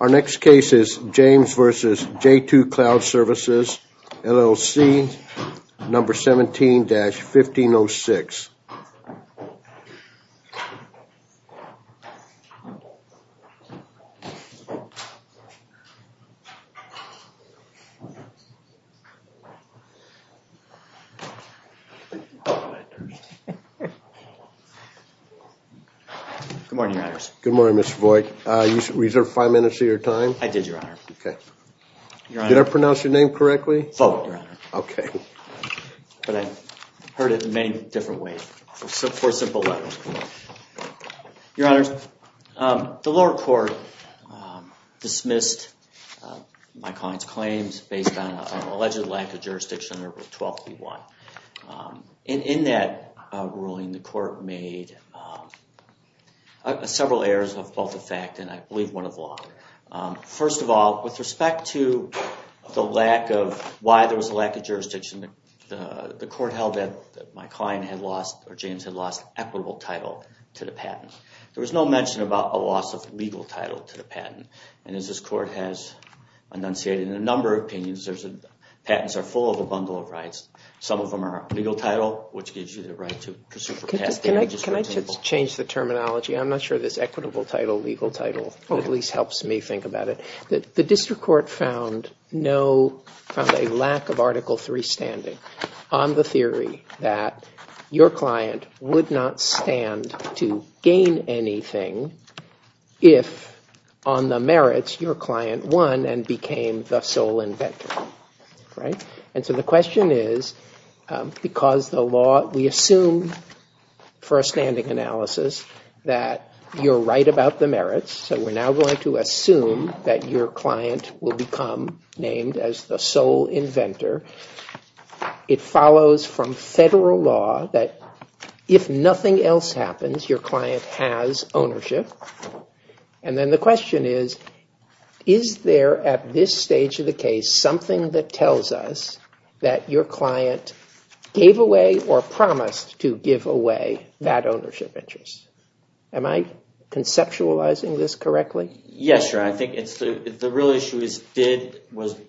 Our next case is James v. j2 Cloud Services, LLC, number 17-1506. Good morning, your honors. Good morning, Mr. Voigt. You reserved five minutes of your time? I did, your honor. Okay. Did I pronounce your name correctly? Voigt, your honor. Okay. But I heard it in many different ways, for simple letters. Your honors, the lower court dismissed my client's claims based on an alleged lack of jurisdiction under Rule 12b-1. In that ruling, the court made several errors of both effect, and I believe one of law. First of all, with respect to the lack of... why there was a lack of jurisdiction, the court held that my client had lost, or James had lost, equitable title to the patent. There was no mention about a loss of legal title to the patent. And as this court has enunciated in a number of opinions, patents are full of a bundle of rights. Some of them are legal title, which gives you the right to pursue for past damages, for example. Can I just change the terminology? I'm not sure this equitable title, legal title, at least helps me think about it. The district court found a lack of Article III standing on the theory that your client would not stand to gain anything if, on the merits, your client won and became the sole inventor. Right? And so the question is, because the law, we assume, for a standing analysis, that you're right about the merits, so we're now going to assume that your client will become named as the sole inventor. It follows from federal law that if nothing else happens, your client has ownership. And then the question is, is there at this stage of the case something that tells us that your client gave away or promised to give away that ownership interest? Am I conceptualizing this correctly? Yes, sir. I think the real issue was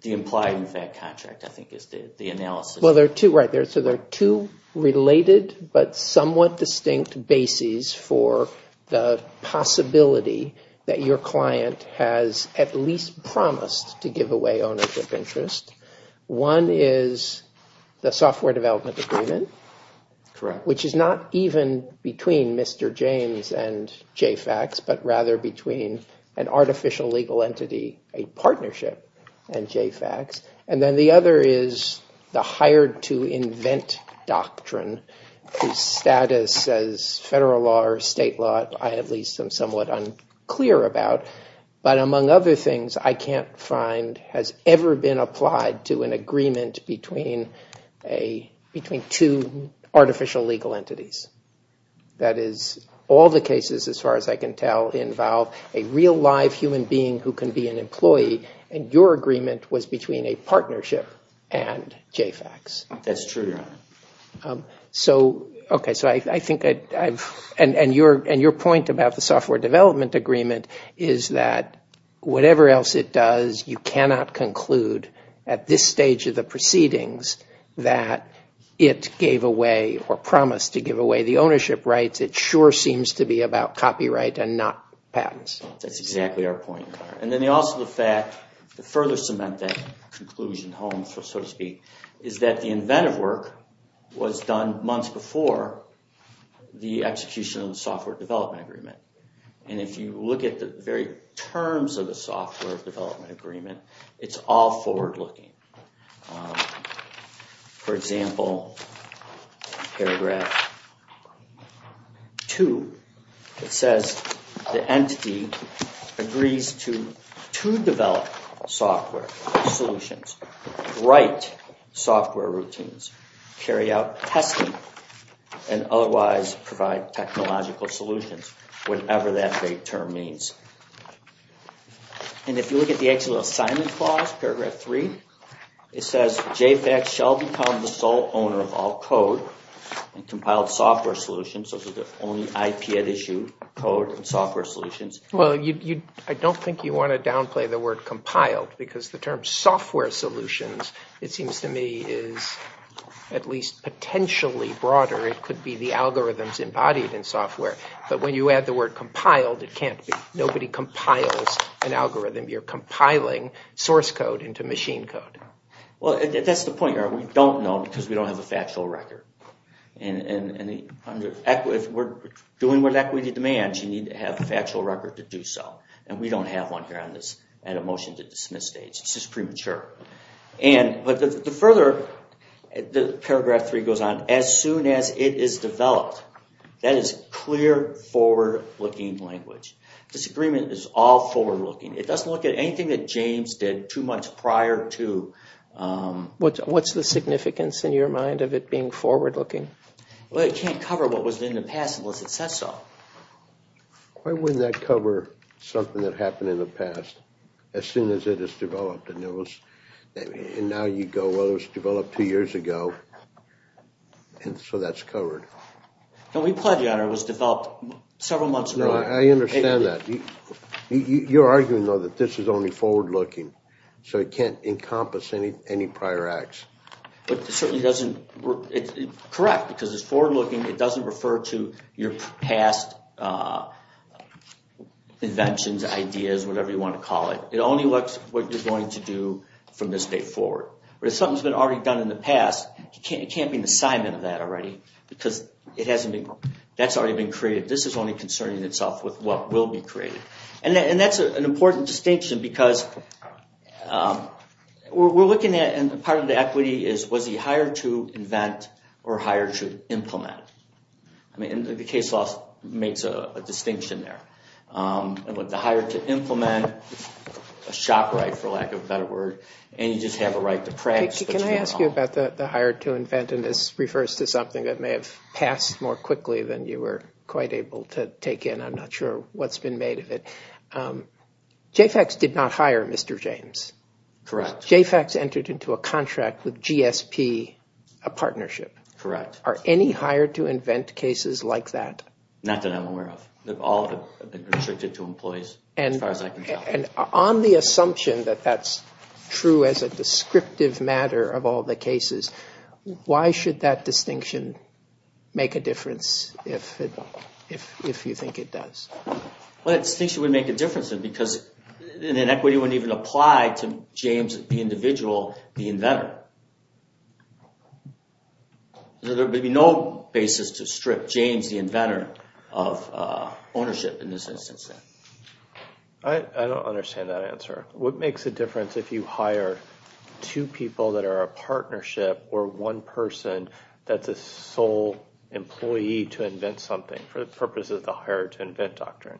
the implied in fact contract, I think is the analysis. Well, there are two related but somewhat distinct bases for the possibility that your client has at least promised to give away ownership interest. One is the software development agreement, which is not even between Mr. James and JFACS, but rather between an artificial legal entity, a partnership, and JFACS. And then the other is the hired to invent doctrine, whose status as federal law or state law, I at least am somewhat unclear about. But among other things, I can't find has ever been applied to an agreement between two artificial legal entities. That is, all the cases, as far as I can tell, involve a real live human being who can be an employee, and your agreement was between a partnership and JFACS. And your point about the software development agreement is that whatever else it does, you cannot conclude at this stage of the proceedings that it gave away or promised to give away the ownership rights. It sure seems to be about copyright and not patents. That's exactly our point. And then also the fact, to further cement that conclusion home, so to speak, is that the inventive work was done months before the execution of the software development agreement. And if you look at the very terms of the software development agreement, it's all forward-looking. For example, paragraph 2, it says the entity agrees to develop software solutions, write software routines, carry out testing, and otherwise provide technological solutions, whatever that term means. And if you look at the actual assignment clause, paragraph 3, it says JFACS shall become the sole owner of all code and compiled software solutions. Those are the only IP at issue, code and software solutions. Well, I don't think you want to downplay the word compiled because the term software solutions, it seems to me, is at least potentially broader. It could be the algorithms embodied in software. But when you add the word compiled, nobody compiles an algorithm. You're compiling source code into machine code. Well, that's the point. We don't know because we don't have a factual record. And if we're doing what equity demands, you need to have a factual record to do so. And we don't have one here at a motion to dismiss stage. It's just premature. But the further paragraph 3 goes on, as soon as it is developed, that is clear forward-looking language. Disagreement is all forward-looking. It doesn't look at anything that James did two months prior to... What's the significance in your mind of it being forward-looking? Well, it can't cover what was in the past unless it says so. Why wouldn't that cover something that happened in the past as soon as it is developed? And now you go, well, it was developed two years ago, and so that's covered. No, we pledge you it was developed several months earlier. I understand that. You're arguing, though, that this is only forward-looking, so it can't encompass any prior acts. But it certainly doesn't... Correct, because it's forward-looking. It doesn't refer to your past inventions, ideas, whatever you want to call it. It only looks at what you're going to do from this date forward. But if something's been already done in the past, it can't be an assignment of that already because that's already been created. This is only concerning itself with what will be created. And that's an important distinction because we're looking at, and part of the equity is, was he hired to invent or hired to implement? I mean, the case law makes a distinction there. The hired to implement is a shock right, for lack of a better word, and you just have a right to press. Can I ask you about the hired to invent? And this refers to something that may have passed more quickly than you were quite able to take in. I'm not sure what's been made of it. JFACS did not hire Mr. James. Correct. JFACS entered into a contract with GSP, a partnership. Correct. Are any hired to invent cases like that? Not that I'm aware of. All have been restricted to employees, as far as I can tell. And on the assumption that that's true as a descriptive matter of all the cases, why should that distinction make a difference if you think it does? Well, that distinction would make a difference because an equity wouldn't even apply to James, the individual, the inventor. There would be no basis to strip James, the inventor, of ownership in this instance. I don't understand that answer. What makes a difference if you hire two people that are a partnership or one person that's a sole employee to invent something for the purpose of the hired to invent doctrine?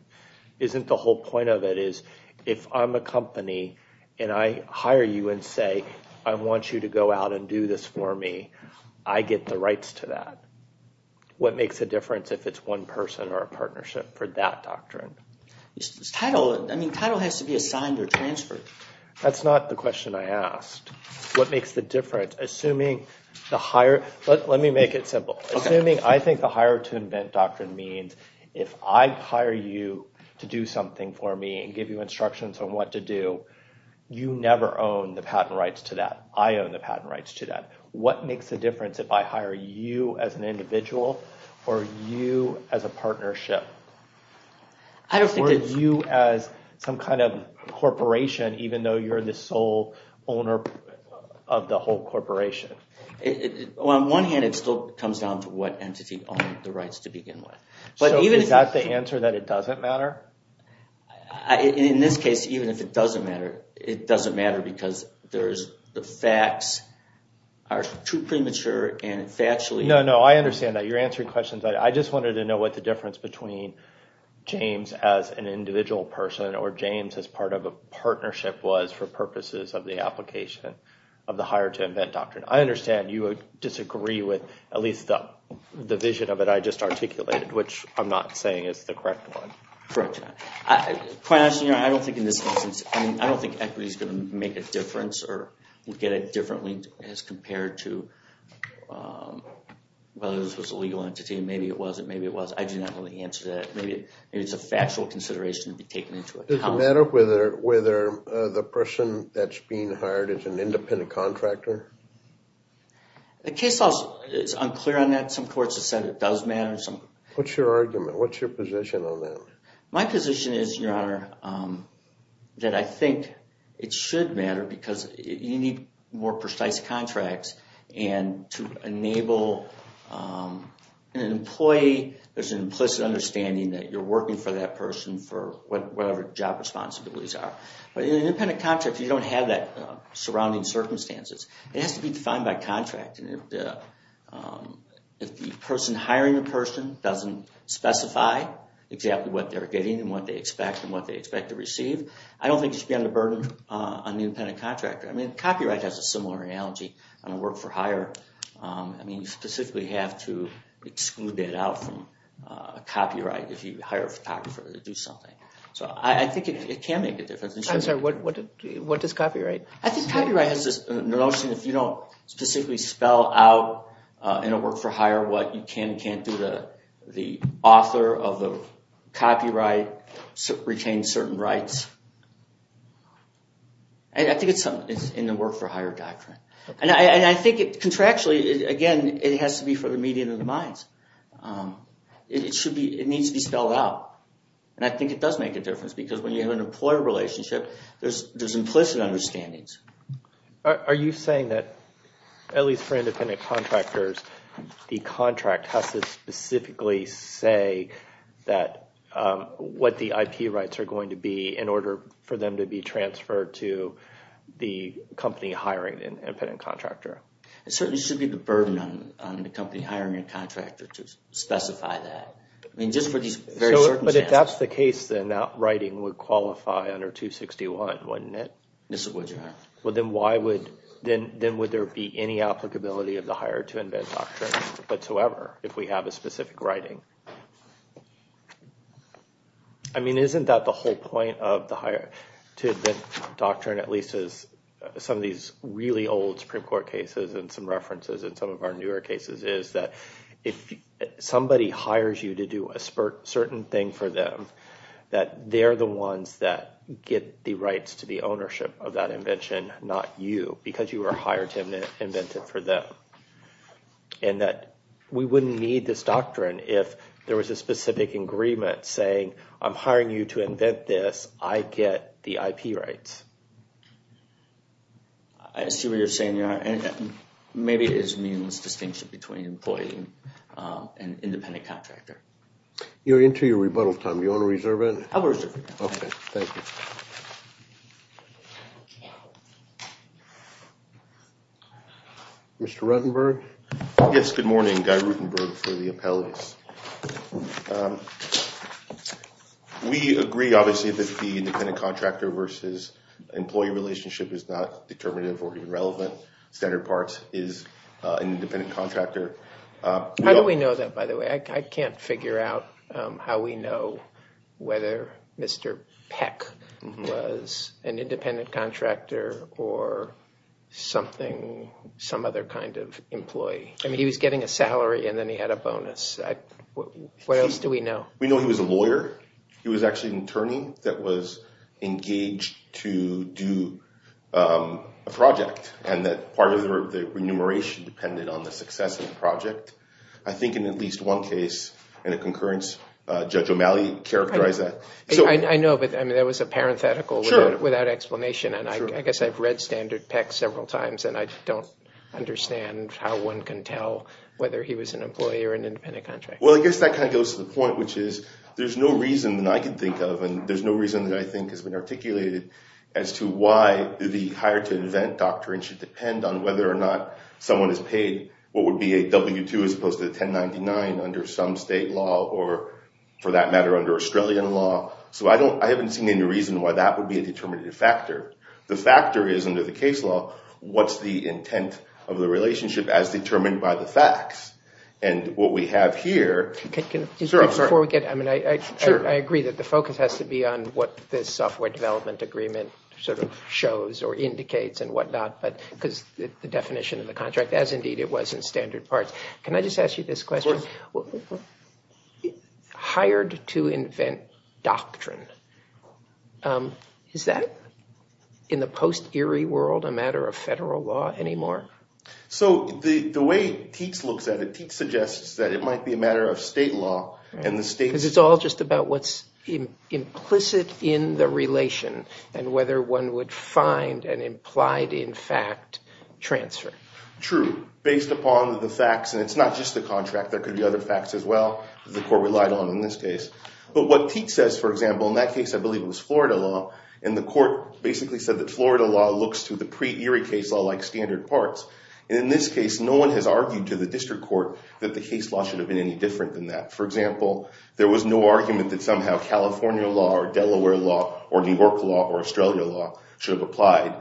Isn't the whole point of it is if I'm a company and I hire you and say, I want you to go out and do this for me, I get the rights to that? What makes a difference if it's one person or a partnership for that doctrine? I mean, title has to be assigned or transferred. That's not the question I asked. What makes the difference? Let me make it simple. Assuming I think the hire to invent doctrine means if I hire you to do something for me and give you instructions on what to do, you never own the patent rights to that. I own the patent rights to that. What makes a difference if I hire you as an individual or you as a partnership? Or you as some kind of corporation even though you're the sole owner of the whole corporation? On one hand, it still comes down to what entity owns the rights to begin with. So is that the answer that it doesn't matter? In this case, even if it doesn't matter, it doesn't matter because the facts are too premature and factually... No, no, I understand that. You're answering questions. I just wanted to know what the difference between James as an individual person or James as part of a partnership was for purposes of the application of the hire to invent doctrine. I understand you would disagree with at least the vision of it I just articulated, which I'm not saying is the correct one. Correct. Quite honestly, I don't think in this instance, I mean, I don't think equity is going to make a difference or get it differently as compared to whether this was a legal entity. Maybe it wasn't, maybe it was. I do not know the answer to that. Maybe it's a factual consideration to be taken into account. Does it matter whether the person that's being hired is an independent contractor? The case law is unclear on that. Some courts have said it does matter. What's your argument? What's your position on that? My position is, Your Honor, that I think it should matter because you need more precise contracts. And to enable an employee, there's an implicit understanding that you're working for that person for whatever job responsibilities are. But in an independent contractor, you don't have that surrounding circumstances. It has to be defined by contract. If the person hiring the person doesn't specify exactly what they're getting and what they expect and what they expect to receive, I don't think you should be under burden on the independent contractor. I mean, copyright has a similar analogy. I work for hire. I mean, you specifically have to exclude that out from copyright if you hire a photographer to do something. So I think it can make a difference. I'm sorry, what does copyright? I think copyright has this notion if you don't specifically spell out in a work-for-hire what you can and can't do, the author of the copyright retains certain rights. I think it's in the work-for-hire doctrine. And I think contractually, again, it has to be for the median of the minds. It needs to be spelled out. And I think it does make a difference because when you have an employer relationship, there's implicit understandings. Are you saying that at least for independent contractors, the contract has to specifically say what the IP rights are going to be in order for them to be transferred to the company hiring an independent contractor? It certainly should be the burden on the company hiring a contractor to specify that. But if that's the case, then that writing would qualify under 261, wouldn't it? Yes, it would. Then would there be any applicability of the hire to invent doctrine whatsoever if we have a specific writing? I mean, isn't that the whole point of the hire to invent doctrine, at least as some of these really old Supreme Court cases and some references in some of our newer cases is that if somebody hires you to do a certain thing for them, that they're the ones that get the rights to the ownership of that invention, not you, because you were hired to invent it for them. And that we wouldn't need this doctrine if there was a specific agreement saying, I'm hiring you to invent this, I get the IP rights. I assume you're saying maybe it is meaningless distinction between employee and independent contractor. You're into your rebuttal time. Do you want to reserve it? I'll reserve it. Okay, thank you. Mr. Ruttenberg? Yes, good morning. Guy Ruttenberg for the appellates. We agree, obviously, that the independent contractor versus employee relationship is not determinative or even relevant. Standard parts is an independent contractor. How do we know that, by the way? I can't figure out how we know whether Mr. Peck was an independent contractor or something, some other kind of employee. I mean, he was getting a salary and then he had a bonus. What else do we know? We know he was a lawyer. He was actually an attorney that was engaged to do a project. And that part of the remuneration depended on the success of the project. I think in at least one case, in a concurrence, Judge O'Malley characterized that. I know, but that was a parenthetical without explanation. And I guess I've read Standard Peck several times and I don't understand how one can tell whether he was an employee or an independent contractor. Well, I guess that kind of goes to the point, which is there's no reason that I can think of, and there's no reason that I think has been articulated as to why the hired-to-invent doctrine should depend on whether or not someone is paid what would be a W-2 as opposed to a 1099 under some state law or, for that matter, under Australian law. So I haven't seen any reason why that would be a determinative factor. The factor is, under the case law, what's the intent of the relationship as determined by the facts. And what we have here – Before we get – I agree that the focus has to be on what this software development agreement sort of shows or indicates and what not, because the definition of the contract, as indeed it was in Standard Parts. Can I just ask you this question? Of course. Hired-to-invent doctrine, is that, in the post-ERI world, a matter of federal law anymore? So the way Teats looks at it, Teats suggests that it might be a matter of state law, and the states – Because it's all just about what's implicit in the relation and whether one would find an implied-in-fact transfer. True, based upon the facts, and it's not just the contract. There could be other facts as well that the court relied on in this case. But what Teats says, for example, in that case I believe it was Florida law, and the court basically said that Florida law looks to the pre-ERI case law like Standard Parts. And in this case, no one has argued to the district court that the case law should have been any different than that. For example, there was no argument that somehow California law or Delaware law or New York law or Australia law should have applied.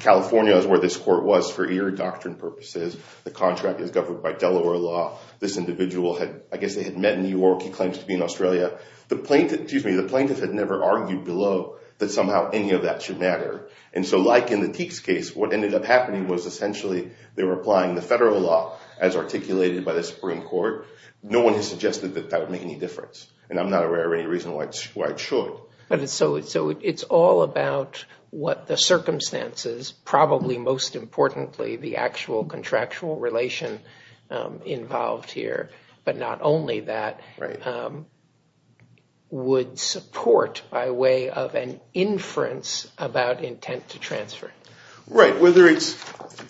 California is where this court was for ERI doctrine purposes. The contract is governed by Delaware law. This individual had – I guess they had met in New York. He claims to be in Australia. The plaintiff had never argued below that somehow any of that should matter. And so like in the Teats case, what ended up happening was essentially they were applying the federal law as articulated by the Supreme Court. No one has suggested that that would make any difference, and I'm not aware of any reason why it should. So it's all about what the circumstances, probably most importantly the actual contractual relation involved here. But not only that, would support by way of an inference about intent to transfer. Right. Whether it's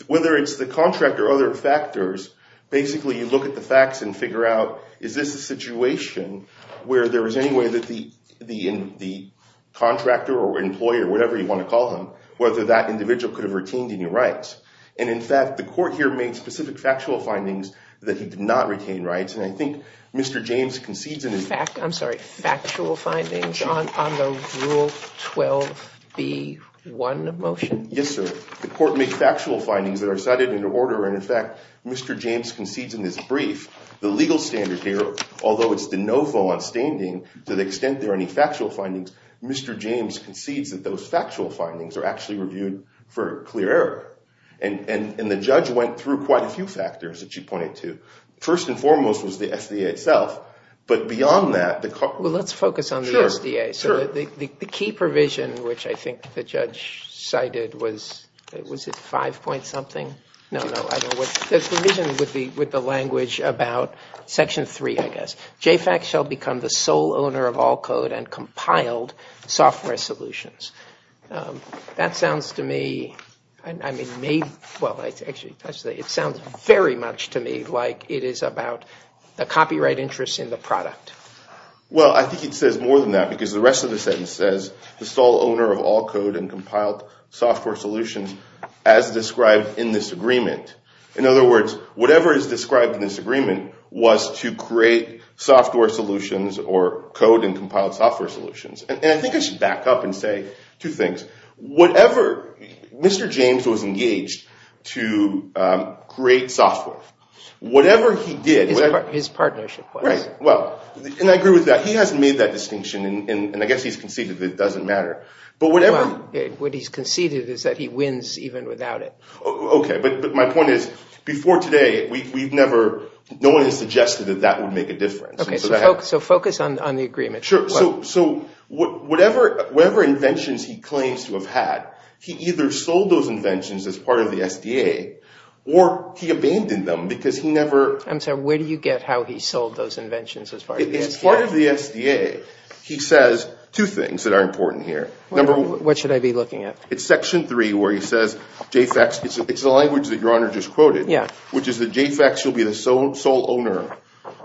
the contract or other factors, basically you look at the facts and figure out, is this a situation where there is any way that the contractor or employer, whatever you want to call him, whether that individual could have retained any rights? And in fact, the court here made specific factual findings that he did not retain rights. And I think Mr. James concedes in his – Factual findings on the Rule 12b-1 motion? Yes, sir. The court made factual findings that are cited in order. And in fact, Mr. James concedes in his brief, the legal standard here, although it's de novo on standing to the extent there are any factual findings, Mr. James concedes that those factual findings are actually reviewed for clear error. And the judge went through quite a few factors that you pointed to. First and foremost was the SDA itself, but beyond that – Well, let's focus on the SDA. Sure, sure. So the key provision, which I think the judge cited was – was it five point something? No, no, I don't know. The provision would be with the language about section three, I guess. JFAC shall become the sole owner of all code and compiled software solutions. That sounds to me – well, actually, it sounds very much to me like it is about the copyright interest in the product. Well, I think it says more than that because the rest of the sentence says the sole owner of all code and compiled software solutions as described in this agreement. In other words, whatever is described in this agreement was to create software solutions or code and compiled software solutions. And I think I should back up and say two things. Whatever – Mr. James was engaged to create software. Whatever he did – His partnership was. Right. Well, and I agree with that. He hasn't made that distinction, and I guess he's conceded that it doesn't matter. But whatever – What he's conceded is that he wins even without it. Okay, but my point is before today, we've never – no one has suggested that that would make a difference. Okay, so focus on the agreement. Sure. So whatever inventions he claims to have had, he either sold those inventions as part of the SDA or he abandoned them because he never – I'm sorry. Where do you get how he sold those inventions as part of the SDA? As part of the SDA, he says two things that are important here. What should I be looking at? It's Section 3 where he says JFACS – it's the language that Your Honor just quoted. Yeah. Which is that JFACS should be the sole owner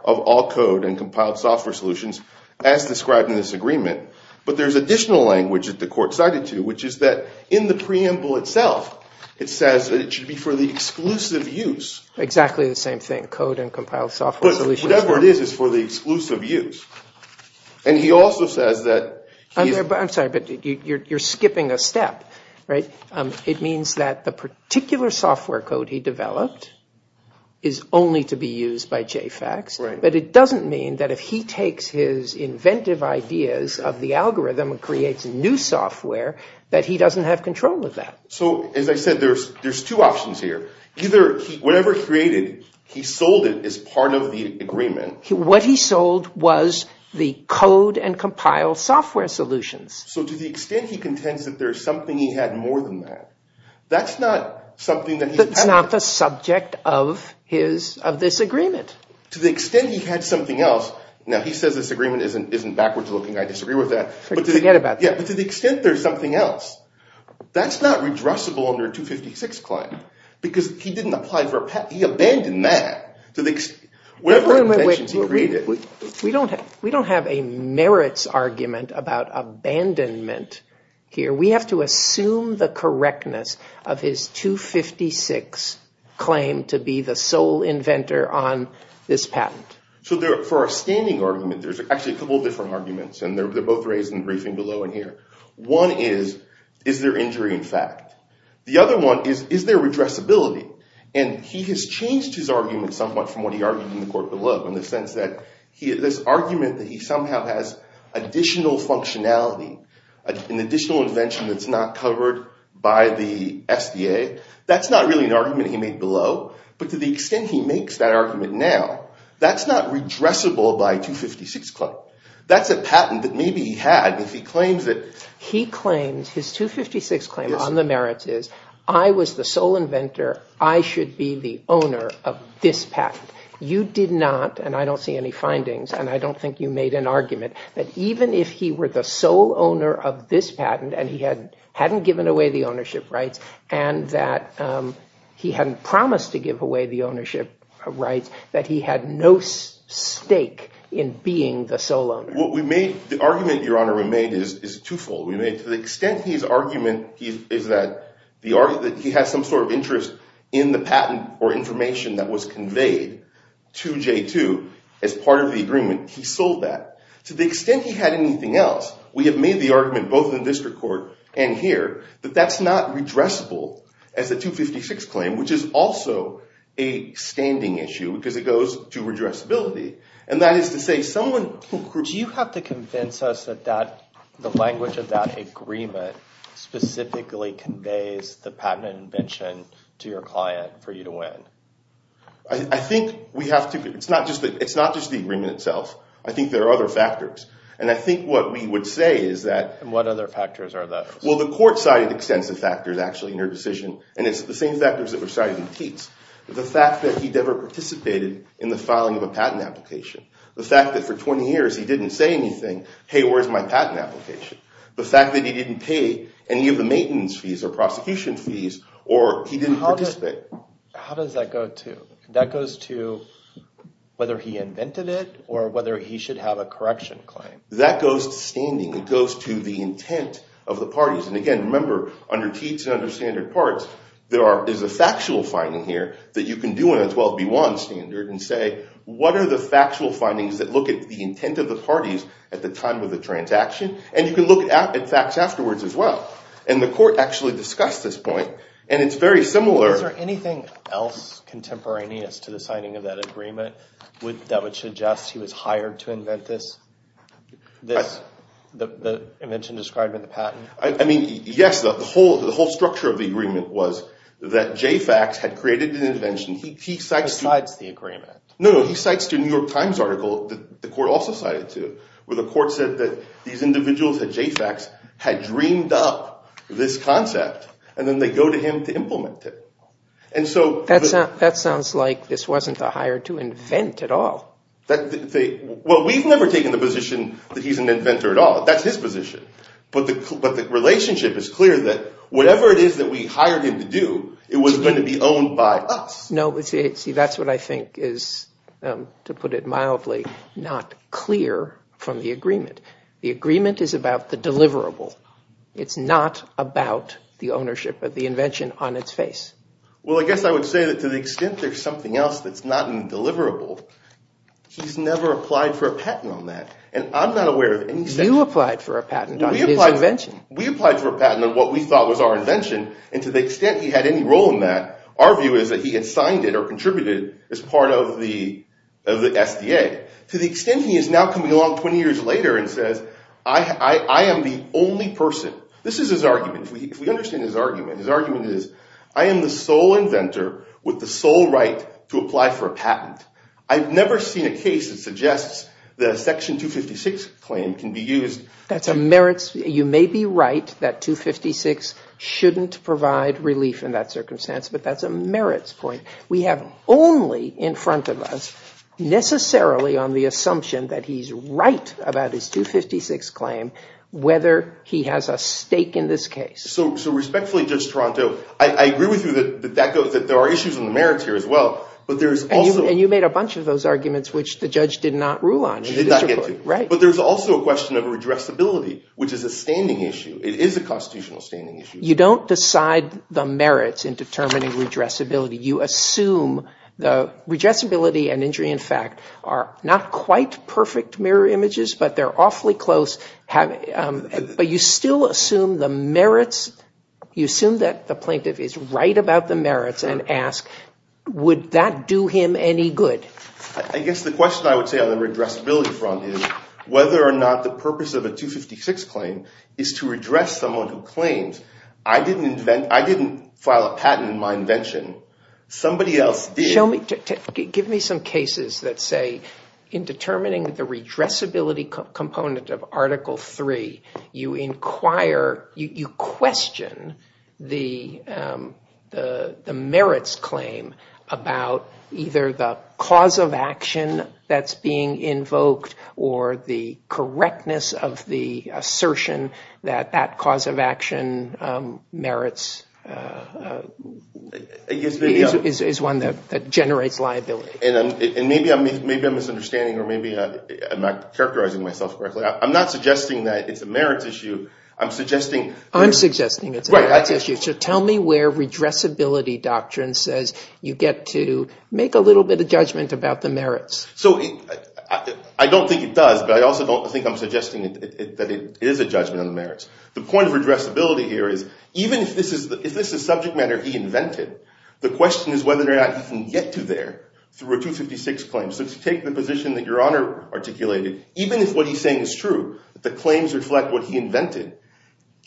of all code and compiled software solutions as described in this agreement. But there's additional language that the court cited to, which is that in the preamble itself, it says that it should be for the exclusive use. Exactly the same thing, code and compiled software solutions. Look, whatever it is, it's for the exclusive use. And he also says that – I'm sorry, but you're skipping a step, right? It means that the particular software code he developed is only to be used by JFACS. Right. But it doesn't mean that if he takes his inventive ideas of the algorithm and creates new software, that he doesn't have control of that. So as I said, there's two options here. Either whatever he created, he sold it as part of the agreement. What he sold was the code and compiled software solutions. So to the extent he contends that there's something he had more than that, that's not something that he's – That's not the subject of his – of this agreement. To the extent he had something else – now, he says this agreement isn't backwards looking. I disagree with that. Forget about that. Yeah, but to the extent there's something else, that's not redressable under a 256 claim because he didn't apply for – he abandoned that. We don't have a merits argument about abandonment here. We have to assume the correctness of his 256 claim to be the sole inventor on this patent. So for our standing argument, there's actually a couple of different arguments, and they're both raised in the briefing below and here. One is, is there injury in fact? The other one is, is there redressability? And he has changed his argument somewhat from what he argued in the court below in the sense that this argument that he somehow has additional functionality, an additional invention that's not covered by the SDA, that's not really an argument he made below. But to the extent he makes that argument now, that's not redressable by a 256 claim. That's a patent that maybe he had. His 256 claim on the merits is, I was the sole inventor. I should be the owner of this patent. You did not, and I don't see any findings, and I don't think you made an argument that even if he were the sole owner of this patent and he hadn't given away the ownership rights and that he hadn't promised to give away the ownership rights, that he had no stake in being the sole owner. The argument, Your Honor, we made is twofold. To the extent his argument is that he has some sort of interest in the patent or information that was conveyed to J2 as part of the agreement, he sold that. To the extent he had anything else, we have made the argument both in the district court and here that that's not redressable as a 256 claim, which is also a standing issue because it goes to redressability. Do you have to convince us that the language of that agreement specifically conveys the patent invention to your client for you to win? I think we have to. It's not just the agreement itself. I think there are other factors. And I think what we would say is that— And what other factors are those? Well, the court cited extensive factors, actually, in your decision, and it's the same factors that were cited in Tietz. The fact that he never participated in the filing of a patent application. The fact that for 20 years he didn't say anything, hey, where's my patent application. The fact that he didn't pay any of the maintenance fees or prosecution fees or he didn't participate. How does that go to—that goes to whether he invented it or whether he should have a correction claim? That goes to standing. It goes to the intent of the parties. And again, remember, under Tietz and under standard parts, there is a factual finding here that you can do in a 12B1 standard and say, what are the factual findings that look at the intent of the parties at the time of the transaction? And you can look at facts afterwards as well. And the court actually discussed this point, and it's very similar— Is there anything else contemporaneous to the signing of that agreement that would suggest he was hired to invent this? The invention described in the patent? I mean, yes. The whole structure of the agreement was that JFACS had created an invention. He cites— Besides the agreement. No, no. He cites the New York Times article that the court also cited to where the court said that these individuals at JFACS had dreamed up this concept, and then they go to him to implement it. And so— That sounds like this wasn't the hire to invent at all. Well, we've never taken the position that he's an inventor at all. That's his position. But the relationship is clear that whatever it is that we hired him to do, it was going to be owned by us. No, see, that's what I think is, to put it mildly, not clear from the agreement. The agreement is about the deliverable. It's not about the ownership of the invention on its face. Well, I guess I would say that to the extent there's something else that's not in deliverable, he's never applied for a patent on that. And I'm not aware of any— You applied for a patent on his invention. We applied for a patent on what we thought was our invention. And to the extent he had any role in that, our view is that he had signed it or contributed as part of the SDA. To the extent he is now coming along 20 years later and says, I am the only person—this is his argument. If we understand his argument, his argument is, I am the sole inventor with the sole right to apply for a patent. I've never seen a case that suggests that a Section 256 claim can be used— That's a merits—you may be right that 256 shouldn't provide relief in that circumstance, but that's a merits point. We have only in front of us necessarily on the assumption that he's right about his 256 claim whether he has a stake in this case. So respectfully, Judge Toronto, I agree with you that there are issues in the merits here as well, but there's also— And you made a bunch of those arguments which the judge did not rule on. He did not get to. Right. But there's also a question of redressability, which is a standing issue. It is a constitutional standing issue. You don't decide the merits in determining redressability. You assume the redressability and injury in fact are not quite perfect mirror images, but they're awfully close. But you still assume the merits—you assume that the plaintiff is right about the merits and ask, would that do him any good? I guess the question I would say on the redressability front is whether or not the purpose of a 256 claim is to redress someone who claims, I didn't file a patent in my invention. Somebody else did. Give me some cases that say in determining the redressability component of Article III, you inquire—you question the merits claim about either the cause of action that's being invoked or the correctness of the assertion that that cause of action merits—is one that generates liability. And maybe I'm misunderstanding or maybe I'm not characterizing myself correctly. I'm not suggesting that it's a merits issue. I'm suggesting— I'm suggesting it's a merits issue. So tell me where redressability doctrine says you get to make a little bit of judgment about the merits. So I don't think it does, but I also don't think I'm suggesting that it is a judgment on the merits. The point of redressability here is even if this is subject matter he invented, the question is whether or not he can get to there through a 256 claim. So to take the position that Your Honor articulated, even if what he's saying is true, the claims reflect what he invented,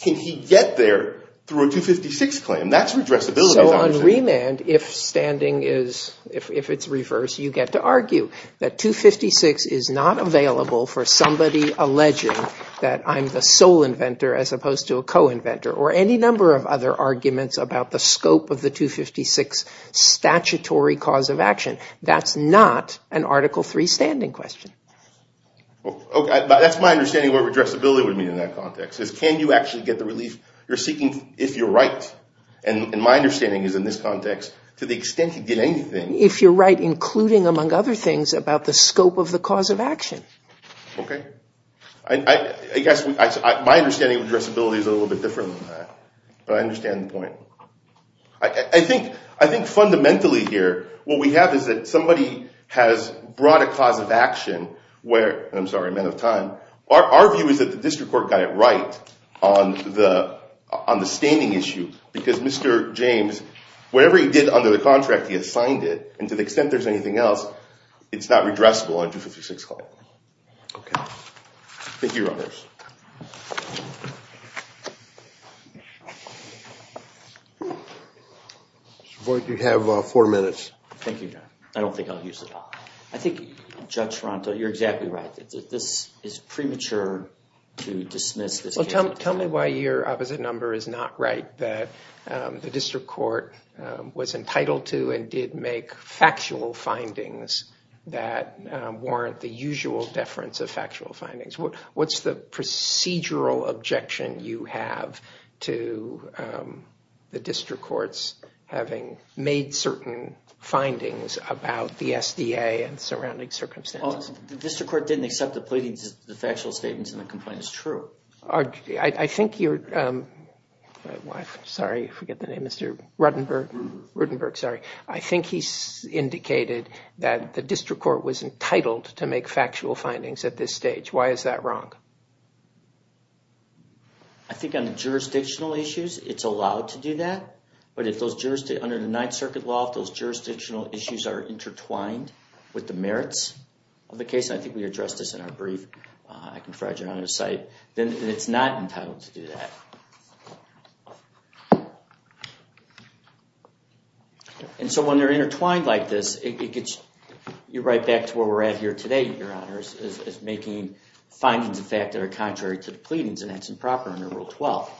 can he get there through a 256 claim? That's redressability. So on remand, if standing is—if it's reversed, you get to argue that 256 is not available for somebody alleging that I'm the sole inventor as opposed to a co-inventor or any number of other arguments about the scope of the 256 statutory cause of action. That's not an Article III standing question. That's my understanding of what redressability would mean in that context, is can you actually get the relief you're seeking if you're right? And my understanding is in this context, to the extent you get anything— If you're right, including, among other things, about the scope of the cause of action. Okay. I guess my understanding of redressability is a little bit different than that, but I understand the point. I think fundamentally here what we have is that somebody has brought a cause of action where— I'm sorry, I'm out of time. Our view is that the district court got it right on the standing issue because Mr. James, whatever he did under the contract, he assigned it, and to the extent there's anything else, it's not redressable on a 256 claim. Okay. Thank you, Your Honors. Mr. Boyd, you have four minutes. Thank you, John. I don't think I'll use it all. I think Judge Ronto, you're exactly right. This is premature to dismiss this case. Tell me why your opposite number is not right, that the district court was entitled to and did make factual findings that warrant the usual deference of factual findings. What's the procedural objection you have to the district courts having made certain findings about the SDA and surrounding circumstances? The district court didn't accept the factual statements in the complaint. It's true. I think you're—sorry, I forget the name, Mr. Rudenberg. I think he indicated that the district court was entitled to make factual findings at this stage. Why is that wrong? I think on jurisdictional issues, it's allowed to do that, but if those—under the Ninth Circuit law, if those jurisdictional issues are intertwined with the merits of the case, and I think we addressed this in our brief, I can provide you another site, then it's not entitled to do that. And so when they're intertwined like this, it gets you right back to where we're at here today, Your Honors, is making findings of fact that are contrary to the pleadings, and that's improper under Rule 12.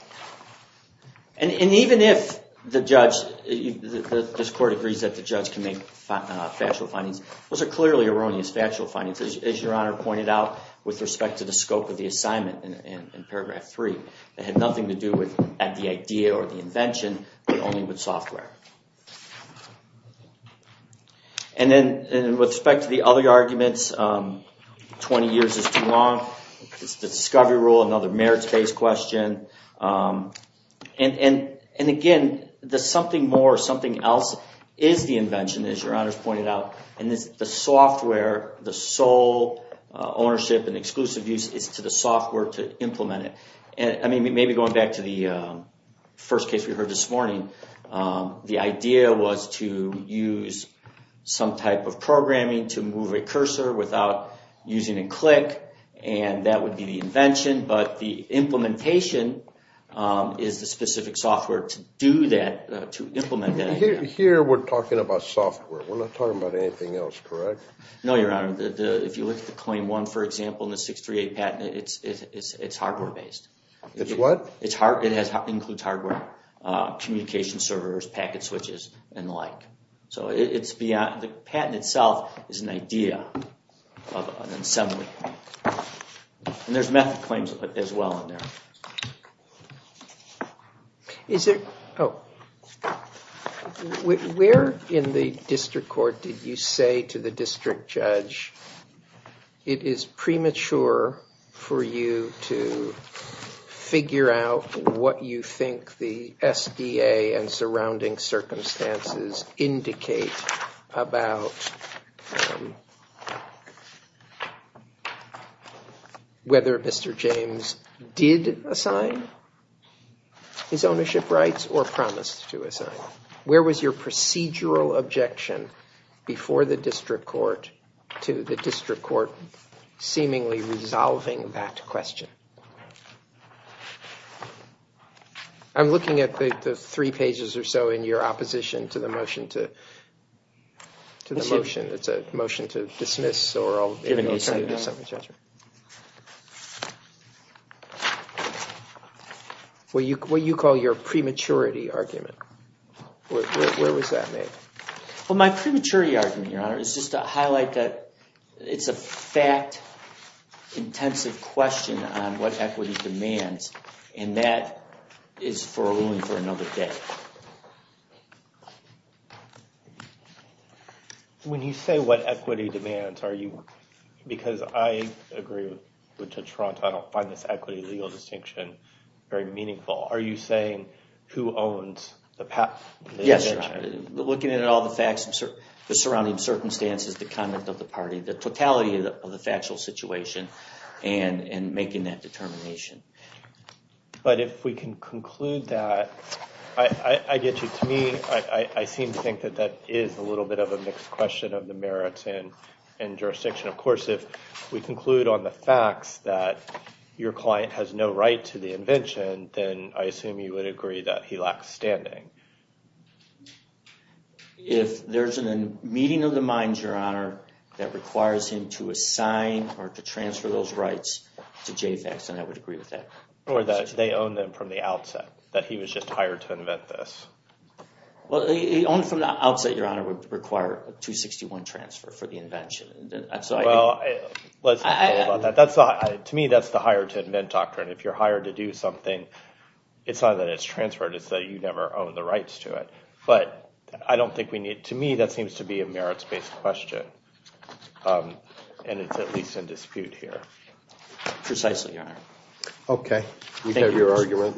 And even if the judge—this court agrees that the judge can make factual findings, those are clearly erroneous factual findings, as Your Honor pointed out, with respect to the scope of the assignment in paragraph 3. It had nothing to do with the idea or the invention, but only with software. And then with respect to the other arguments, 20 years is too long. It's the discovery rule, another merits-based question. And again, the something more or something else is the invention, as Your Honors pointed out, and it's the software, the sole ownership and exclusive use is to the software to implement it. I mean, maybe going back to the first case we heard this morning, the idea was to use some type of programming to move a cursor without using a click, and that would be the invention. But the implementation is the specific software to do that, to implement that idea. Here we're talking about software. We're not talking about anything else, correct? No, Your Honor. If you look at the Claim 1, for example, and the 638 patent, it's hardware-based. It's what? It includes hardware, communication servers, packet switches, and the like. The patent itself is an idea of an assembly, and there's method claims as well in there. Where in the district court did you say to the district judge, it is premature for you to figure out what you think the SBA and surrounding circumstances indicate about whether Mr. James did assign his ownership rights or promised to assign? Where was your procedural objection before the district court to the district court seemingly resolving that question? I'm looking at the three pages or so in your opposition to the motion to dismiss. Give me a second. What you call your prematurity argument. Where was that made? My prematurity argument, Your Honor, is just to highlight that it's a fact-intensive question on what equity demands, and that is for a ruling for another day. When you say what equity demands, because I agree with Judge Toronto, I don't find this equity legal distinction very meaningful. Are you saying who owns the patent? Yes, Your Honor. Looking at all the facts, the surrounding circumstances, the comment of the party, the totality of the factual situation, and making that determination. But if we can conclude that, I get you. To me, I seem to think that that is a little bit of a mixed question of the merits and jurisdiction. Of course, if we conclude on the facts that your client has no right to the invention, then I assume you would agree that he lacks standing. If there's a meeting of the minds, Your Honor, that requires him to assign or to transfer those rights to JFAC, then I would agree with that. Or that they own them from the outset, that he was just hired to invent this. Only from the outset, Your Honor, would require a 261 transfer for the invention. Well, let's not go about that. To me, that's the hire-to-invent doctrine. If you're hired to do something, it's not that it's transferred, it's that you never own the rights to it. But to me, that seems to be a merits-based question, and it's at least in dispute here. Precisely, Your Honor. Okay. Thank you, Your Honor. You have your argument.